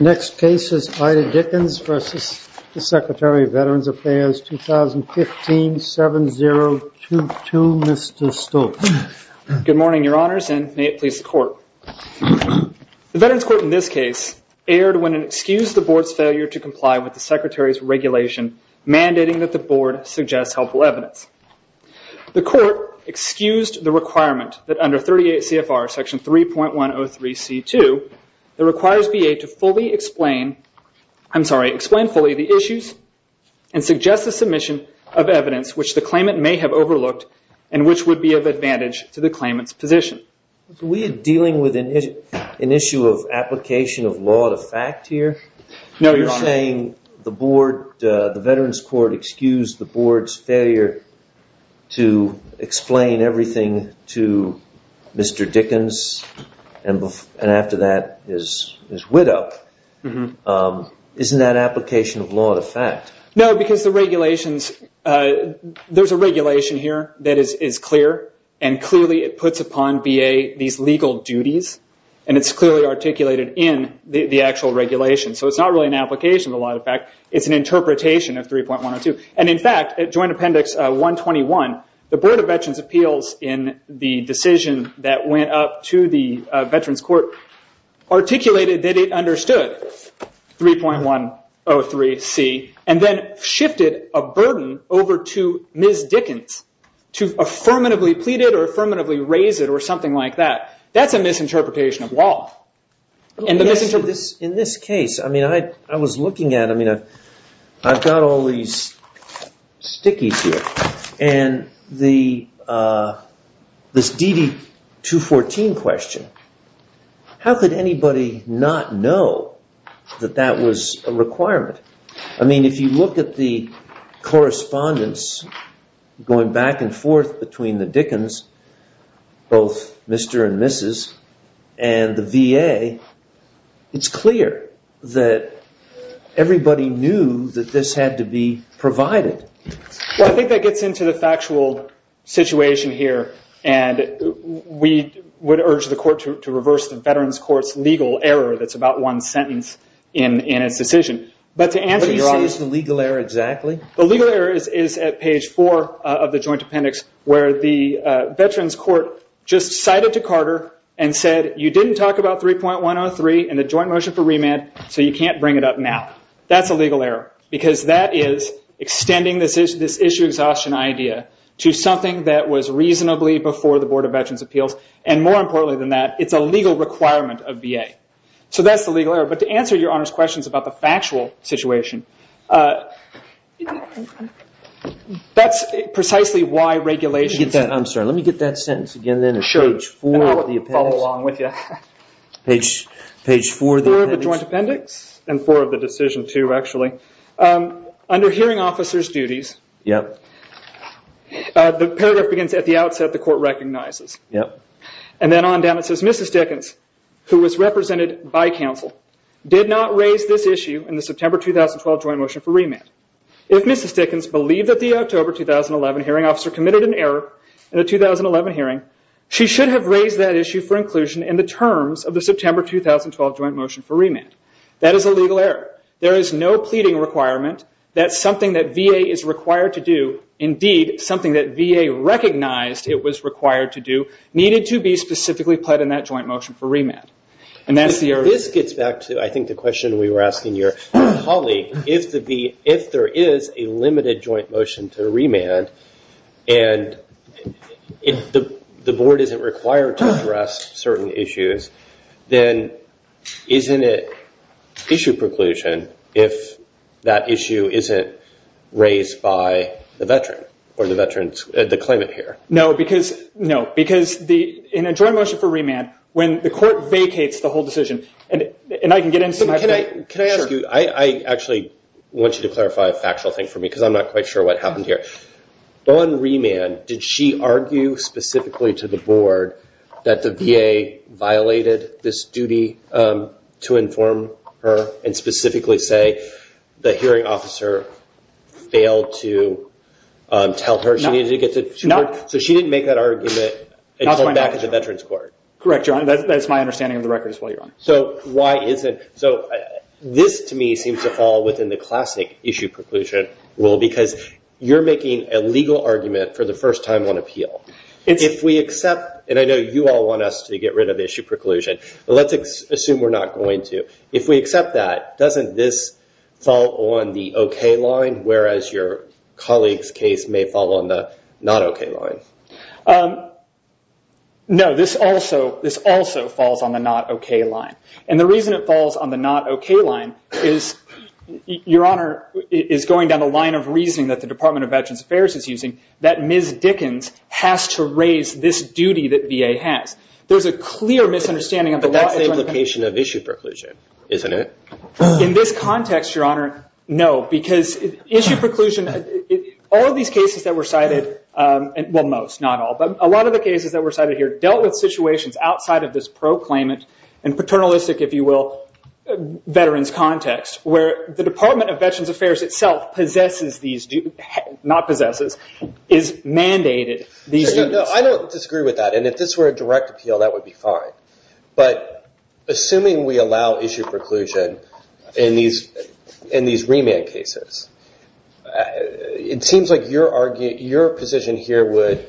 Next case is Ida Dickens v. Secretary of Veterans Affairs, 2015-7022, Mr. Stoltz. Good morning, Your Honors, and may it please the Court. The Veterans Court in this case erred when it excused the Board's failure to comply with the Secretary's regulation mandating that the Board suggest helpful evidence. The Court excused the requirement that under 38 CFR Section 3.103C2, it requires VA to fully explain the issues and suggest a submission of evidence which the claimant may have overlooked and which would be of advantage to the claimant's position. Are we dealing with an issue of application of law to fact here? No, Your Honor. You're saying the Veterans Court excused the Board's failure to explain everything to Mr. Dickens and after that his widow. Isn't that application of law to fact? No, because there's a regulation here that is clear and clearly it puts upon VA these legal duties and it's clearly articulated in the actual regulation. It's not really an application of law to fact. It's an interpretation of 3.102. In fact, at Joint Appendix 121, the Board of Veterans Appeals in the decision that went up to the Veterans Court articulated that it understood 3.103C and then shifted a burden over to Ms. Dickens to affirmatively plead it or affirmatively raise it or something like that. That's a misinterpretation of law. In this case, I was looking at it. I've got all these stickies here and this DD 214 question, how could anybody not know that that was a requirement? If you look at the correspondence going back and forth between the Dickens, both Mr. and Mrs. and the VA, it's clear that everybody knew that this had to be provided. I think that gets into the factual situation here. We would urge the court to reverse the Veterans Court's legal error that's about one sentence in its decision. What do you say is the legal error exactly? The legal error is at page four of the Joint Appendix where the Veterans Court just cited to Carter and said, you didn't talk about 3.103 and the joint motion for remand so you can't bring it up now. That's a legal error because that is extending this issue exhaustion idea to something that was reasonably before the Board of Veterans' Appeals. More importantly than that, it's a legal requirement of VA. That's the legal error. To answer your Honor's questions about the factual situation, that's precisely why regulations... I'm sorry, let me get that sentence again then at page four of the Appendix. I will follow along with you. Page four of the Appendix. Four of the Joint Appendix and four of the decision too actually. Under hearing officer's duties, the paragraph begins, at the outset the court recognizes. Then on down it says, Mrs. Dickens, who was represented by counsel, did not raise this issue in the September 2012 joint motion for remand. If Mrs. Dickens believed that the October 2011 hearing officer committed an error in a 2011 hearing, she should have raised that issue for inclusion in the terms of the September 2012 joint motion for remand. That is a legal error. There is no pleading requirement that something that VA is required to do, indeed something that VA recognized it was required to do, needed to be specifically pled in that joint motion for remand. This gets back to I think the question we were asking your colleague. If there is a limited joint motion to remand and the board isn't required to address certain issues, then isn't it issue preclusion if that issue isn't raised by the veteran or the claimant here? No, because in a joint motion for remand, when the court vacates the whole decision, and I can get into my point. Can I ask you? I actually want you to clarify a factual thing for me because I'm not quite sure what happened here. On remand, did she argue specifically to the board that the VA violated this duty to inform her and specifically say the hearing officer failed to tell her she needed to get to court? No. She didn't make that argument until back at the veterans court? Correct, Your Honor. That's my understanding of the record as well, Your Honor. Why is it? This to me seems to fall within the classic issue preclusion rule because you're making a legal argument for the first time on appeal. If we accept, and I know you all want us to get rid of issue preclusion, but let's assume we're not going to. If we accept that, doesn't this fall on the okay line, whereas your colleague's case may fall on the not okay line? No, this also falls on the not okay line. The reason it falls on the not okay line is, Your Honor, is going down the line of reasoning that the Department of Veterans Affairs is using that Ms. Dickens has to raise this duty that VA has. There's a clear misunderstanding. But that's the implication of issue preclusion, isn't it? In this context, Your Honor, no. Because issue preclusion, all of these cases that were cited, well, most, not all, but a lot of the cases that were cited here dealt with situations outside of this proclaimant and paternalistic, if you will, veterans context, where the Department of Veterans Affairs itself possesses these, not possesses, is mandated these duties. I don't disagree with that. If this were a direct appeal, that would be fine. But assuming we allow issue preclusion in these remand cases, it seems like your position here would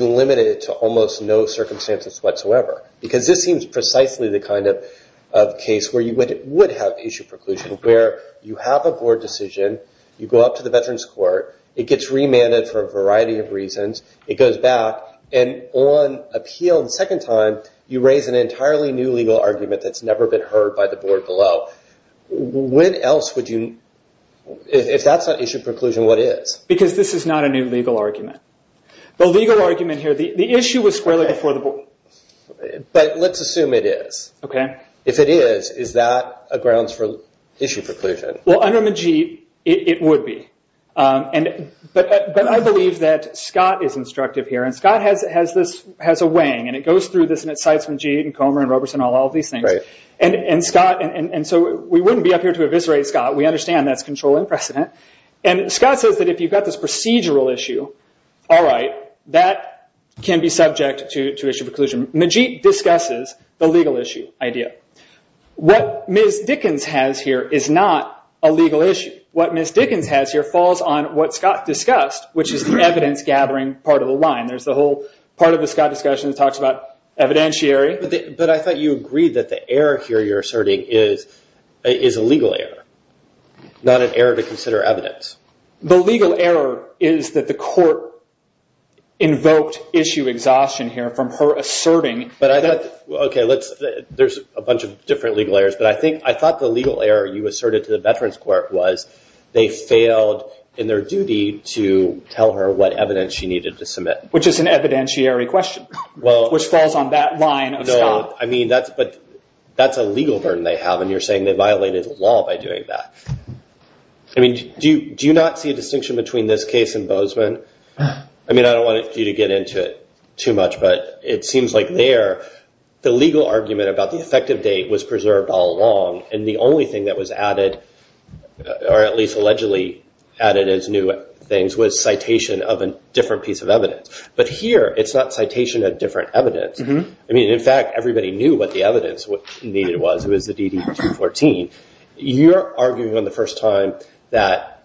limit it to almost no circumstances whatsoever because this seems precisely the kind of case where you would have issue preclusion, where you have a board decision. You go up to the veterans court. It gets remanded for a variety of reasons. It goes back. And on appeal the second time, you raise an entirely new legal argument that's never been heard by the board below. When else would you, if that's not issue preclusion, what is? Because this is not a new legal argument. The legal argument here, the issue was squarely before the board. But let's assume it is. If it is, is that a grounds for issue preclusion? Well, under Majid, it would be. But I believe that Scott is instructive here. And Scott has a weighing, and it goes through this, and it cites Majid and Comer and Roberson, all of these things. And so we wouldn't be up here to eviscerate Scott. We understand that's controlling precedent. And Scott says that if you've got this procedural issue, all right, that can be subject to issue preclusion. Majid discusses the legal issue idea. What Ms. Dickens has here is not a legal issue. What Ms. Dickens has here falls on what Scott discussed, which is the evidence-gathering part of the line. There's the whole part of the Scott discussion that talks about evidentiary. But I thought you agreed that the error here you're asserting is a legal error, not an error to consider evidence. The legal error is that the court invoked issue exhaustion here from her asserting. But I thought, okay, there's a bunch of different legal errors. But I thought the legal error you asserted to the Veterans Court was they failed in their duty to tell her what evidence she needed to submit. Which is an evidentiary question, which falls on that line of Scott. No, I mean, but that's a legal burden they have. And you're saying they violated the law by doing that. I mean, do you not see a distinction between this case and Bozeman? I mean, I don't want you to get into it too much, but it seems like there, the legal argument about the effective date was preserved all along. And the only thing that was added, or at least allegedly added as new things, was citation of a different piece of evidence. But here, it's not citation of different evidence. I mean, in fact, everybody knew what the evidence needed was. It was the DD-214. You're arguing on the first time that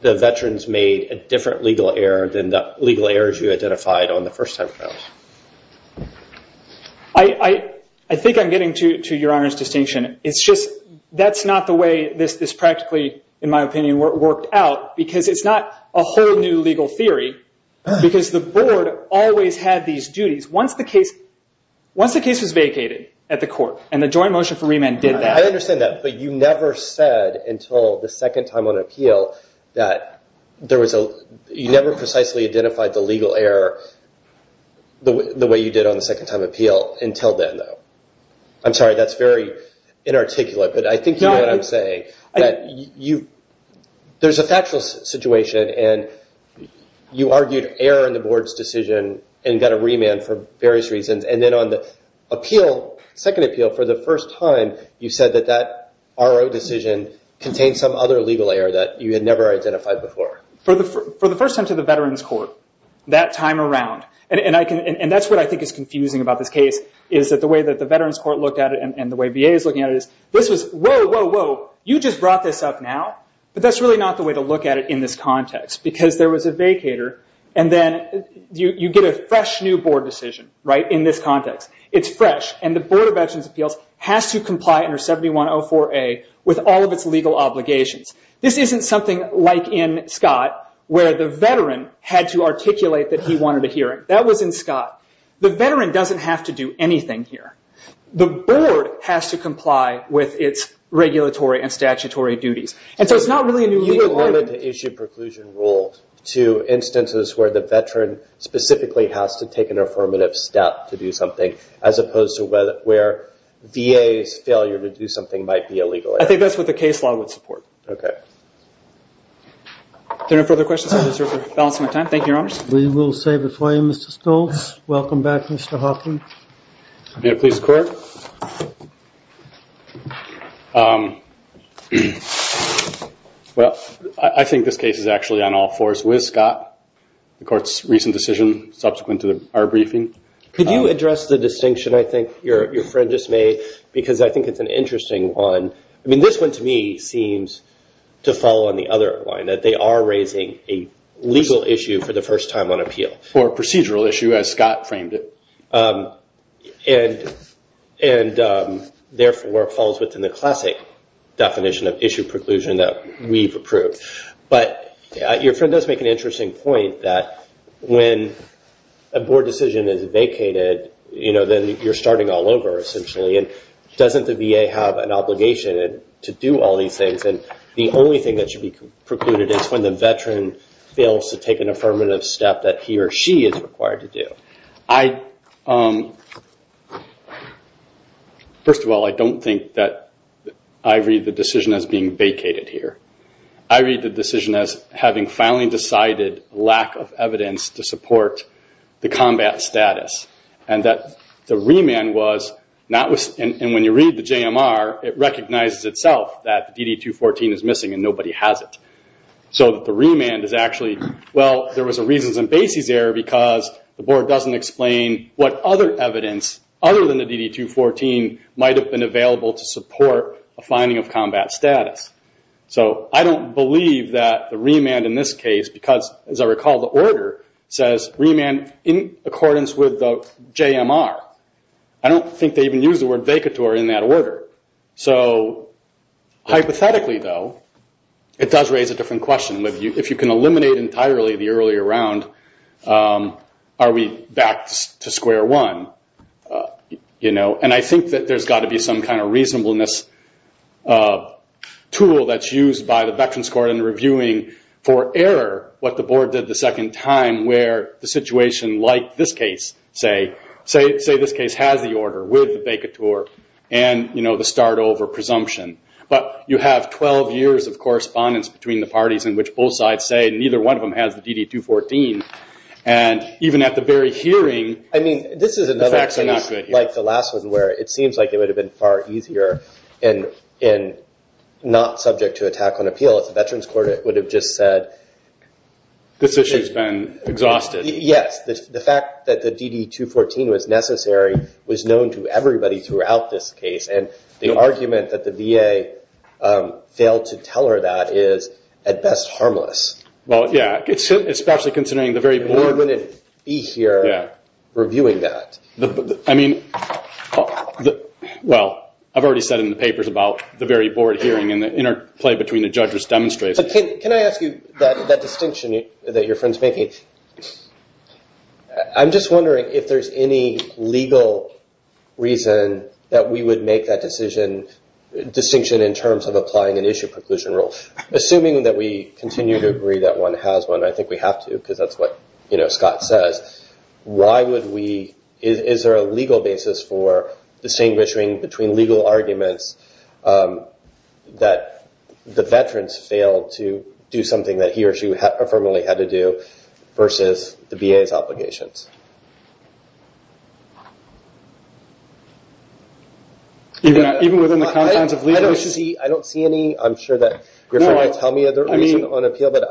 the veterans made a different legal error than the legal errors you identified on the first time around. I think I'm getting to your Honor's distinction. It's just that's not the way this practically, in my opinion, worked out. Because it's not a whole new legal theory. Because the board always had these duties. Once the case was vacated at the court, and the joint motion for remand did that. I understand that, but you never said until the second time on appeal that you never precisely identified the legal error the way you did on the second time appeal until then, though. I'm sorry, that's very inarticulate, but I think you know what I'm saying. There's a factual situation, and you argued error in the board's decision and got a remand for various reasons. Then on the appeal, second appeal, for the first time, you said that that RO decision contained some other legal error that you had never identified before. For the first time to the veterans court, that time around, and that's what I think is confusing about this case, is that the way that the veterans court looked at it, and the way VA is looking at it, is this was, whoa, whoa, whoa, you just brought this up now, but that's really not the way to look at it in this context, because there was a vacator. Then you get a fresh new board decision in this context. It's fresh, and the Board of Veterans' Appeals has to comply under 7104A with all of its legal obligations. This isn't something like in Scott, where the veteran had to articulate that he wanted a hearing. That was in Scott. The veteran doesn't have to do anything here. The board has to comply with its regulatory and statutory duties. It's not really a new legal order. I wanted to issue preclusion rules to instances where the veteran specifically has to take an affirmative step to do something, as opposed to where VA's failure to do something might be a legal error. I think that's what the case law would support. Okay. If there are no further questions, I deserve to balance my time. Thank you, Your Honors. We will save it for you, Mr. Stoltz. Welcome back, Mr. Hoffman. May it please the Court? Well, I think this case is actually on all fours with Scott, the Court's recent decision subsequent to our briefing. Could you address the distinction I think your friend just made? Because I think it's an interesting one. I mean, this one to me seems to fall on the other line, that they are raising a legal issue for the first time on appeal. Or a procedural issue, as Scott framed it. And, therefore, falls within the classic definition of issue preclusion that we've approved. But your friend does make an interesting point, that when a board decision is vacated, then you're starting all over, essentially. Doesn't the VA have an obligation to do all these things? The only thing that should be precluded is when the veteran fails to take an affirmative step that he or she is required to do. First of all, I don't think that I read the decision as being vacated here. I read the decision as having finally decided lack of evidence to support the combat status. And that the remand was not... And when you read the JMR, it recognizes itself that DD-214 is missing and nobody has it. So that the remand is actually... Well, there was a reasons and basis error because the board doesn't explain what other evidence, other than the DD-214, might have been available to support a finding of combat status. So I don't believe that the remand in this case, because, as I recall, the order says remand in accordance with the JMR. I don't think they even use the word vacator in that order. So, hypothetically, though, it does raise a different question. If you can eliminate entirely the earlier round, are we back to square one? And I think that there's got to be some kind of reasonableness tool that's used by the veterans court in reviewing for error what the board did the second time, where the situation like this case, say, this case has the order with the vacator and the start over presumption. But you have 12 years of correspondence between the parties in which both sides say neither one of them has the DD-214. And even at the very hearing... I mean, this is another case like the last one where it seems like it would have been far easier and not subject to attack on appeal if the veterans court would have just said... This issue's been exhausted. Yes, the fact that the DD-214 was necessary was known to everybody throughout this case. And the argument that the VA failed to tell her that is, at best, harmless. Well, yeah, especially considering the very board... The board wouldn't be here reviewing that. I mean, well, I've already said in the papers about the very board hearing and the interplay between the judges' demonstrations. But can I ask you that distinction that your friend's making? I'm just wondering if there's any legal reason that we would make that distinction in terms of applying an issue preclusion rule. Assuming that we continue to agree that one has one, and I think we have to because that's what Scott says, why would we... Is there a legal basis for distinguishing between legal arguments that the veterans failed to do something that he or she affirmatively had to do versus the VA's obligations? Even within the confines of legal... I don't see any. I'm sure that your friend will tell me other reasons on appeal, but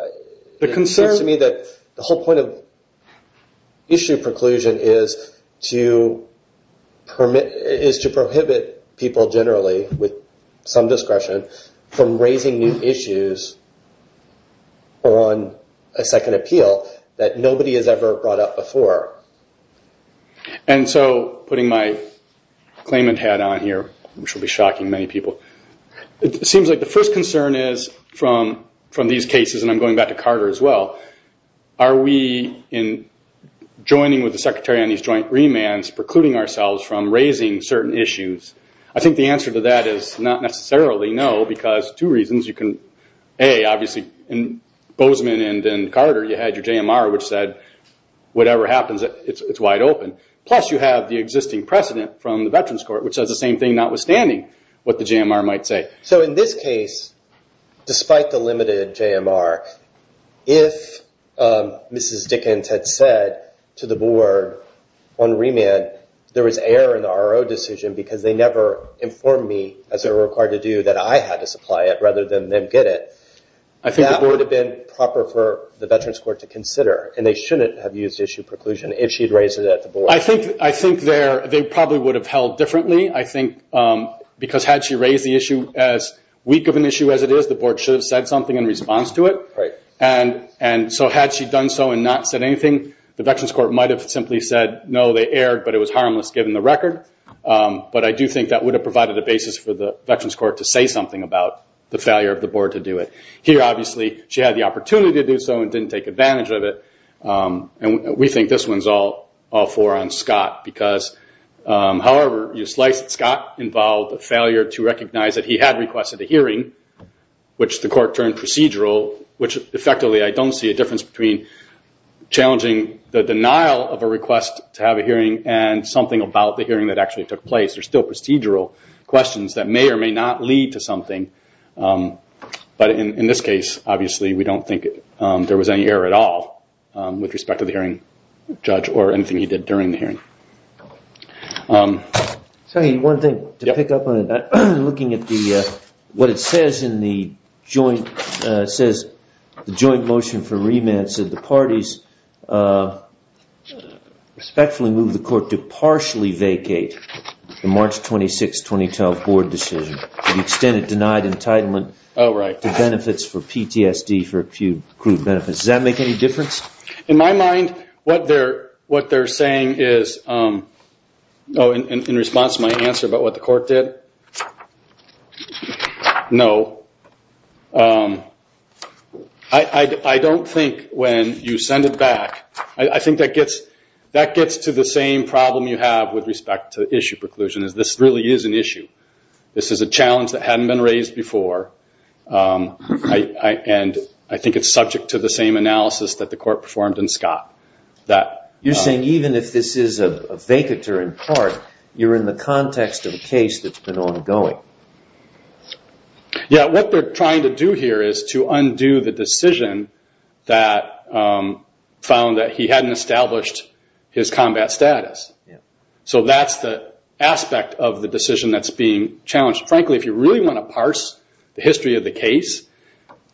it seems to me that the whole point of issue preclusion is to prohibit people generally with some discretion from raising new issues on a second appeal that nobody has ever brought up before. And so putting my claimant hat on here, which will be shocking to many people, it seems like the first concern is from these cases, and I'm going back to Carter as well, are we, in joining with the Secretary on these joint remands, precluding ourselves from raising certain issues? I think the answer to that is not necessarily no, because two reasons. A, obviously, in Bozeman and Carter, you had your JMR, which said whatever happens, it's wide open. Plus, you have the existing precedent from the Veterans Court, which says the same thing, notwithstanding what the JMR might say. In this case, despite the limited JMR, if Mrs. Dickens had said to the board on remand, there was error in the RO decision because they never informed me, as they were required to do, that I had to supply it rather than them get it, that would have been proper for the Veterans Court to consider, and they shouldn't have used issue preclusion if she had raised it at the board. I think they probably would have held differently, because had she raised the issue as weak of an issue as it is, the board should have said something in response to it. Had she done so and not said anything, the Veterans Court might have simply said, no, they erred, but it was harmless given the record. I do think that would have provided a basis for the Veterans Court to say something about the failure of the board to do it. Here, obviously, she had the opportunity to do so and didn't take advantage of it. We think this one's all for on Scott, because however you slice it, it did not involve a failure to recognize that he had requested a hearing, which the court turned procedural, which effectively I don't see a difference between challenging the denial of a request to have a hearing and something about the hearing that actually took place. They're still procedural questions that may or may not lead to something. But in this case, obviously, we don't think there was any error at all with respect to the hearing judge or anything he did during the hearing. One thing to pick up on, looking at what it says in the joint motion for remand, it says the parties respectfully move the court to partially vacate the March 26, 2012 board decision to the extent it denied entitlement to benefits for PTSD for accrued benefits. Does that make any difference? In my mind, what they're saying is, in response to my answer about what the court did, no. I don't think when you send it back, I think that gets to the same problem you have with respect to issue preclusion, is this really is an issue. This is a challenge that hadn't been raised before. I think it's subject to the same analysis that the court performed in Scott. You're saying even if this is a vacatur in part, you're in the context of a case that's been ongoing. Yeah, what they're trying to do here is to undo the decision that found that he hadn't established his combat status. That's the aspect of the decision that's being challenged. Frankly, if you really want to parse the history of the case,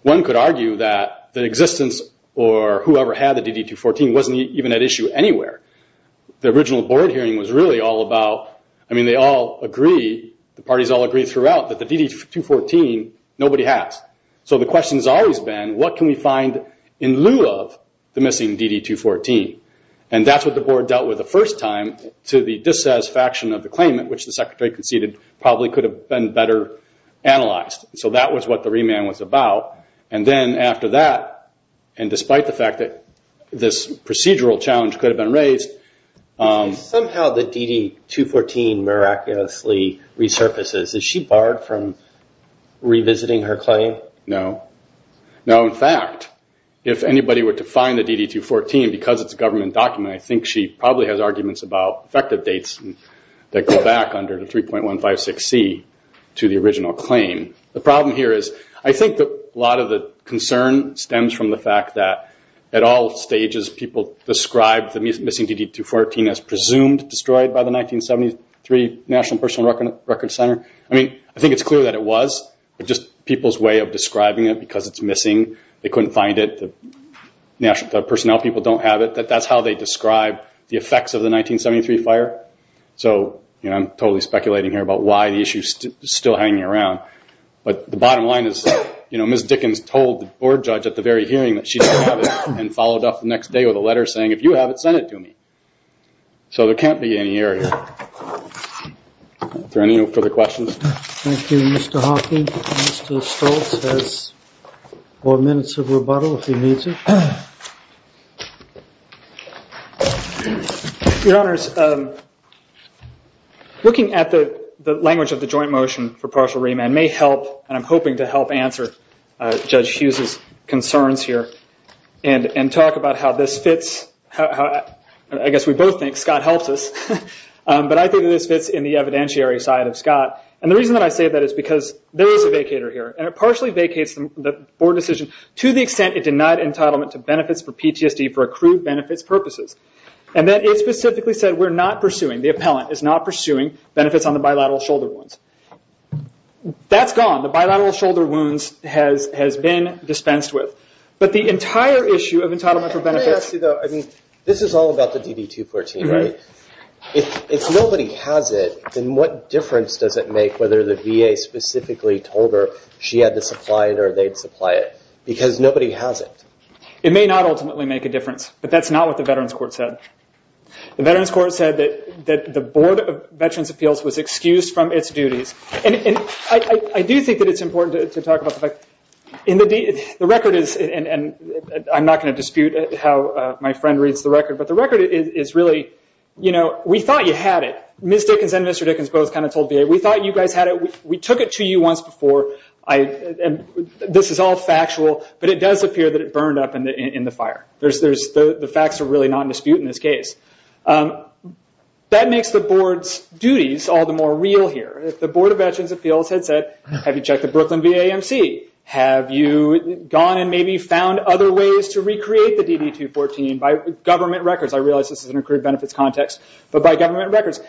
one could argue that the existence or whoever had the DD-214 wasn't even at issue anywhere. The original board hearing was really all about, they all agree, the parties all agree throughout, that the DD-214, nobody has. The question has always been, what can we find in lieu of the missing DD-214? That's what the board dealt with the first time to the dissatisfaction of the claimant, which the secretary conceded probably could have been better analyzed. That was what the remand was about. Then after that, and despite the fact that this procedural challenge could have been raised... Somehow the DD-214 miraculously resurfaces. Is she barred from revisiting her claim? No. In fact, if anybody were to find the DD-214, because it's a government document, I think she probably has arguments about effective dates that go back under the 3.156C to the original claim. The problem here is, I think a lot of the concern stems from the fact that at all stages people describe the missing DD-214 as presumed destroyed by the 1973 National Personal Records Center. I think it's clear that it was. It's just people's way of describing it, because it's missing. They couldn't find it. The personnel people don't have it. That's how they describe the effects of the 1973 fire. I'm totally speculating here about why the issue is still hanging around. The bottom line is, Ms. Dickens told the board judge at the very hearing that she didn't have it, and followed up the next day with a letter saying, if you have it, send it to me. There can't be any error here. Are there any further questions? Thank you, Mr. Hawking. Mr. Stoltz has four minutes of rebuttal if he needs it. Your Honors, looking at the language of the joint motion for partial remand may help, and I'm hoping to help answer Judge Hughes' concerns here, and talk about how this fits. I guess we both think Scott helps us, but I think this fits in the evidentiary side of Scott. The reason I say that is because there is a vacator here, and it partially vacates the board decision to the extent it denied entitlement to benefits for PTSD for accrued benefits purposes. It specifically said we're not pursuing, the appellant is not pursuing benefits on the bilateral shoulder wounds. That's gone. The bilateral shoulder wounds has been dispensed with. The entire issue of entitlement for benefits... This is all about the DD-214, right? If nobody has it, then what difference does it make whether the VA specifically told her she had to supply it, or they'd supply it? Because nobody has it. It may not ultimately make a difference, but that's not what the Veterans Court said. The Veterans Court said that the Board of Veterans' Appeals was excused from its duties. I do think that it's important to talk about the fact... The record is... I'm not going to dispute how my friend reads the record, but the record is really... We thought you had it. Ms. Dickens and Mr. Dickens both told VA, we thought you guys had it. We took it to you once before. This is all factual, but it does appear that it burned up in the fire. The facts are really not in dispute in this case. That makes the Board's duties all the more real here. If the Board of Veterans' Appeals had said, have you checked the Brooklyn VAMC? Have you gone and maybe found other ways to recreate the DD-214 by government records? I realize this is an accrued benefits context, but by government records.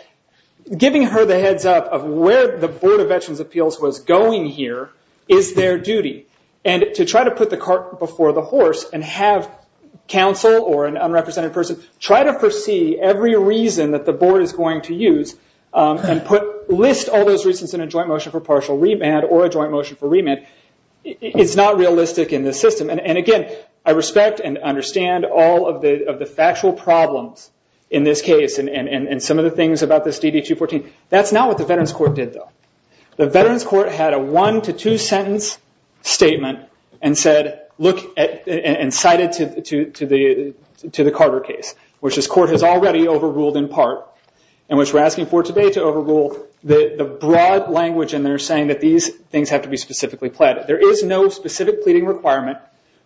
Giving her the heads up of where the Board of Veterans' Appeals was going here is their duty. To try to put the cart before the horse and have counsel or an unrepresented person try to foresee every reason that the Board is going to use and list all those reasons in a joint motion for partial remand or a joint motion for remand is not realistic in this system. Again, I respect and understand all of the factual problems in this case and some of the things about this DD-214. That's not what the Veterans' Court did, though. The Veterans' Court had a one to two sentence statement and cited to the Carter case, which this court has already overruled in part and which we're asking for today to overrule the broad language in there saying that these things have to be specifically pleaded. There is no specific pleading requirement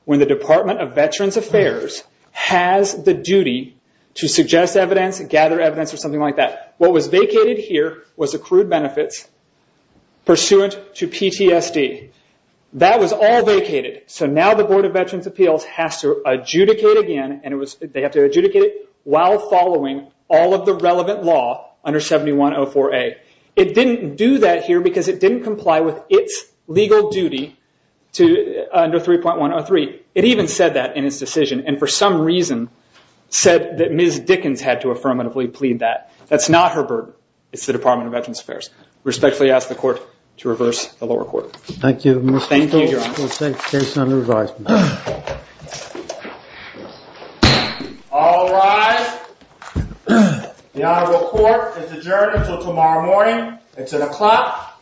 when the Department of Veterans' Affairs has the duty to suggest evidence, gather evidence, or something like that. What was vacated here was accrued benefits pursuant to PTSD. That was all vacated. Now the Board of Veterans' Appeals has to adjudicate again while following all of the relevant law under 7104A. It didn't do that here because it didn't comply with its legal duty under 3.103. It even said that in its decision and for some reason said that Ms. Dickens had to affirmatively plead that. That's not her burden. It's the Department of Veterans' Affairs. Respectfully ask the court to reverse the lower court. Thank you, Mr. Stokes. Thank you, Your Honor. The case is under revise, Mr. Stokes. All rise. The Honorable Court is adjourned until tomorrow morning. It's at o'clock a.m.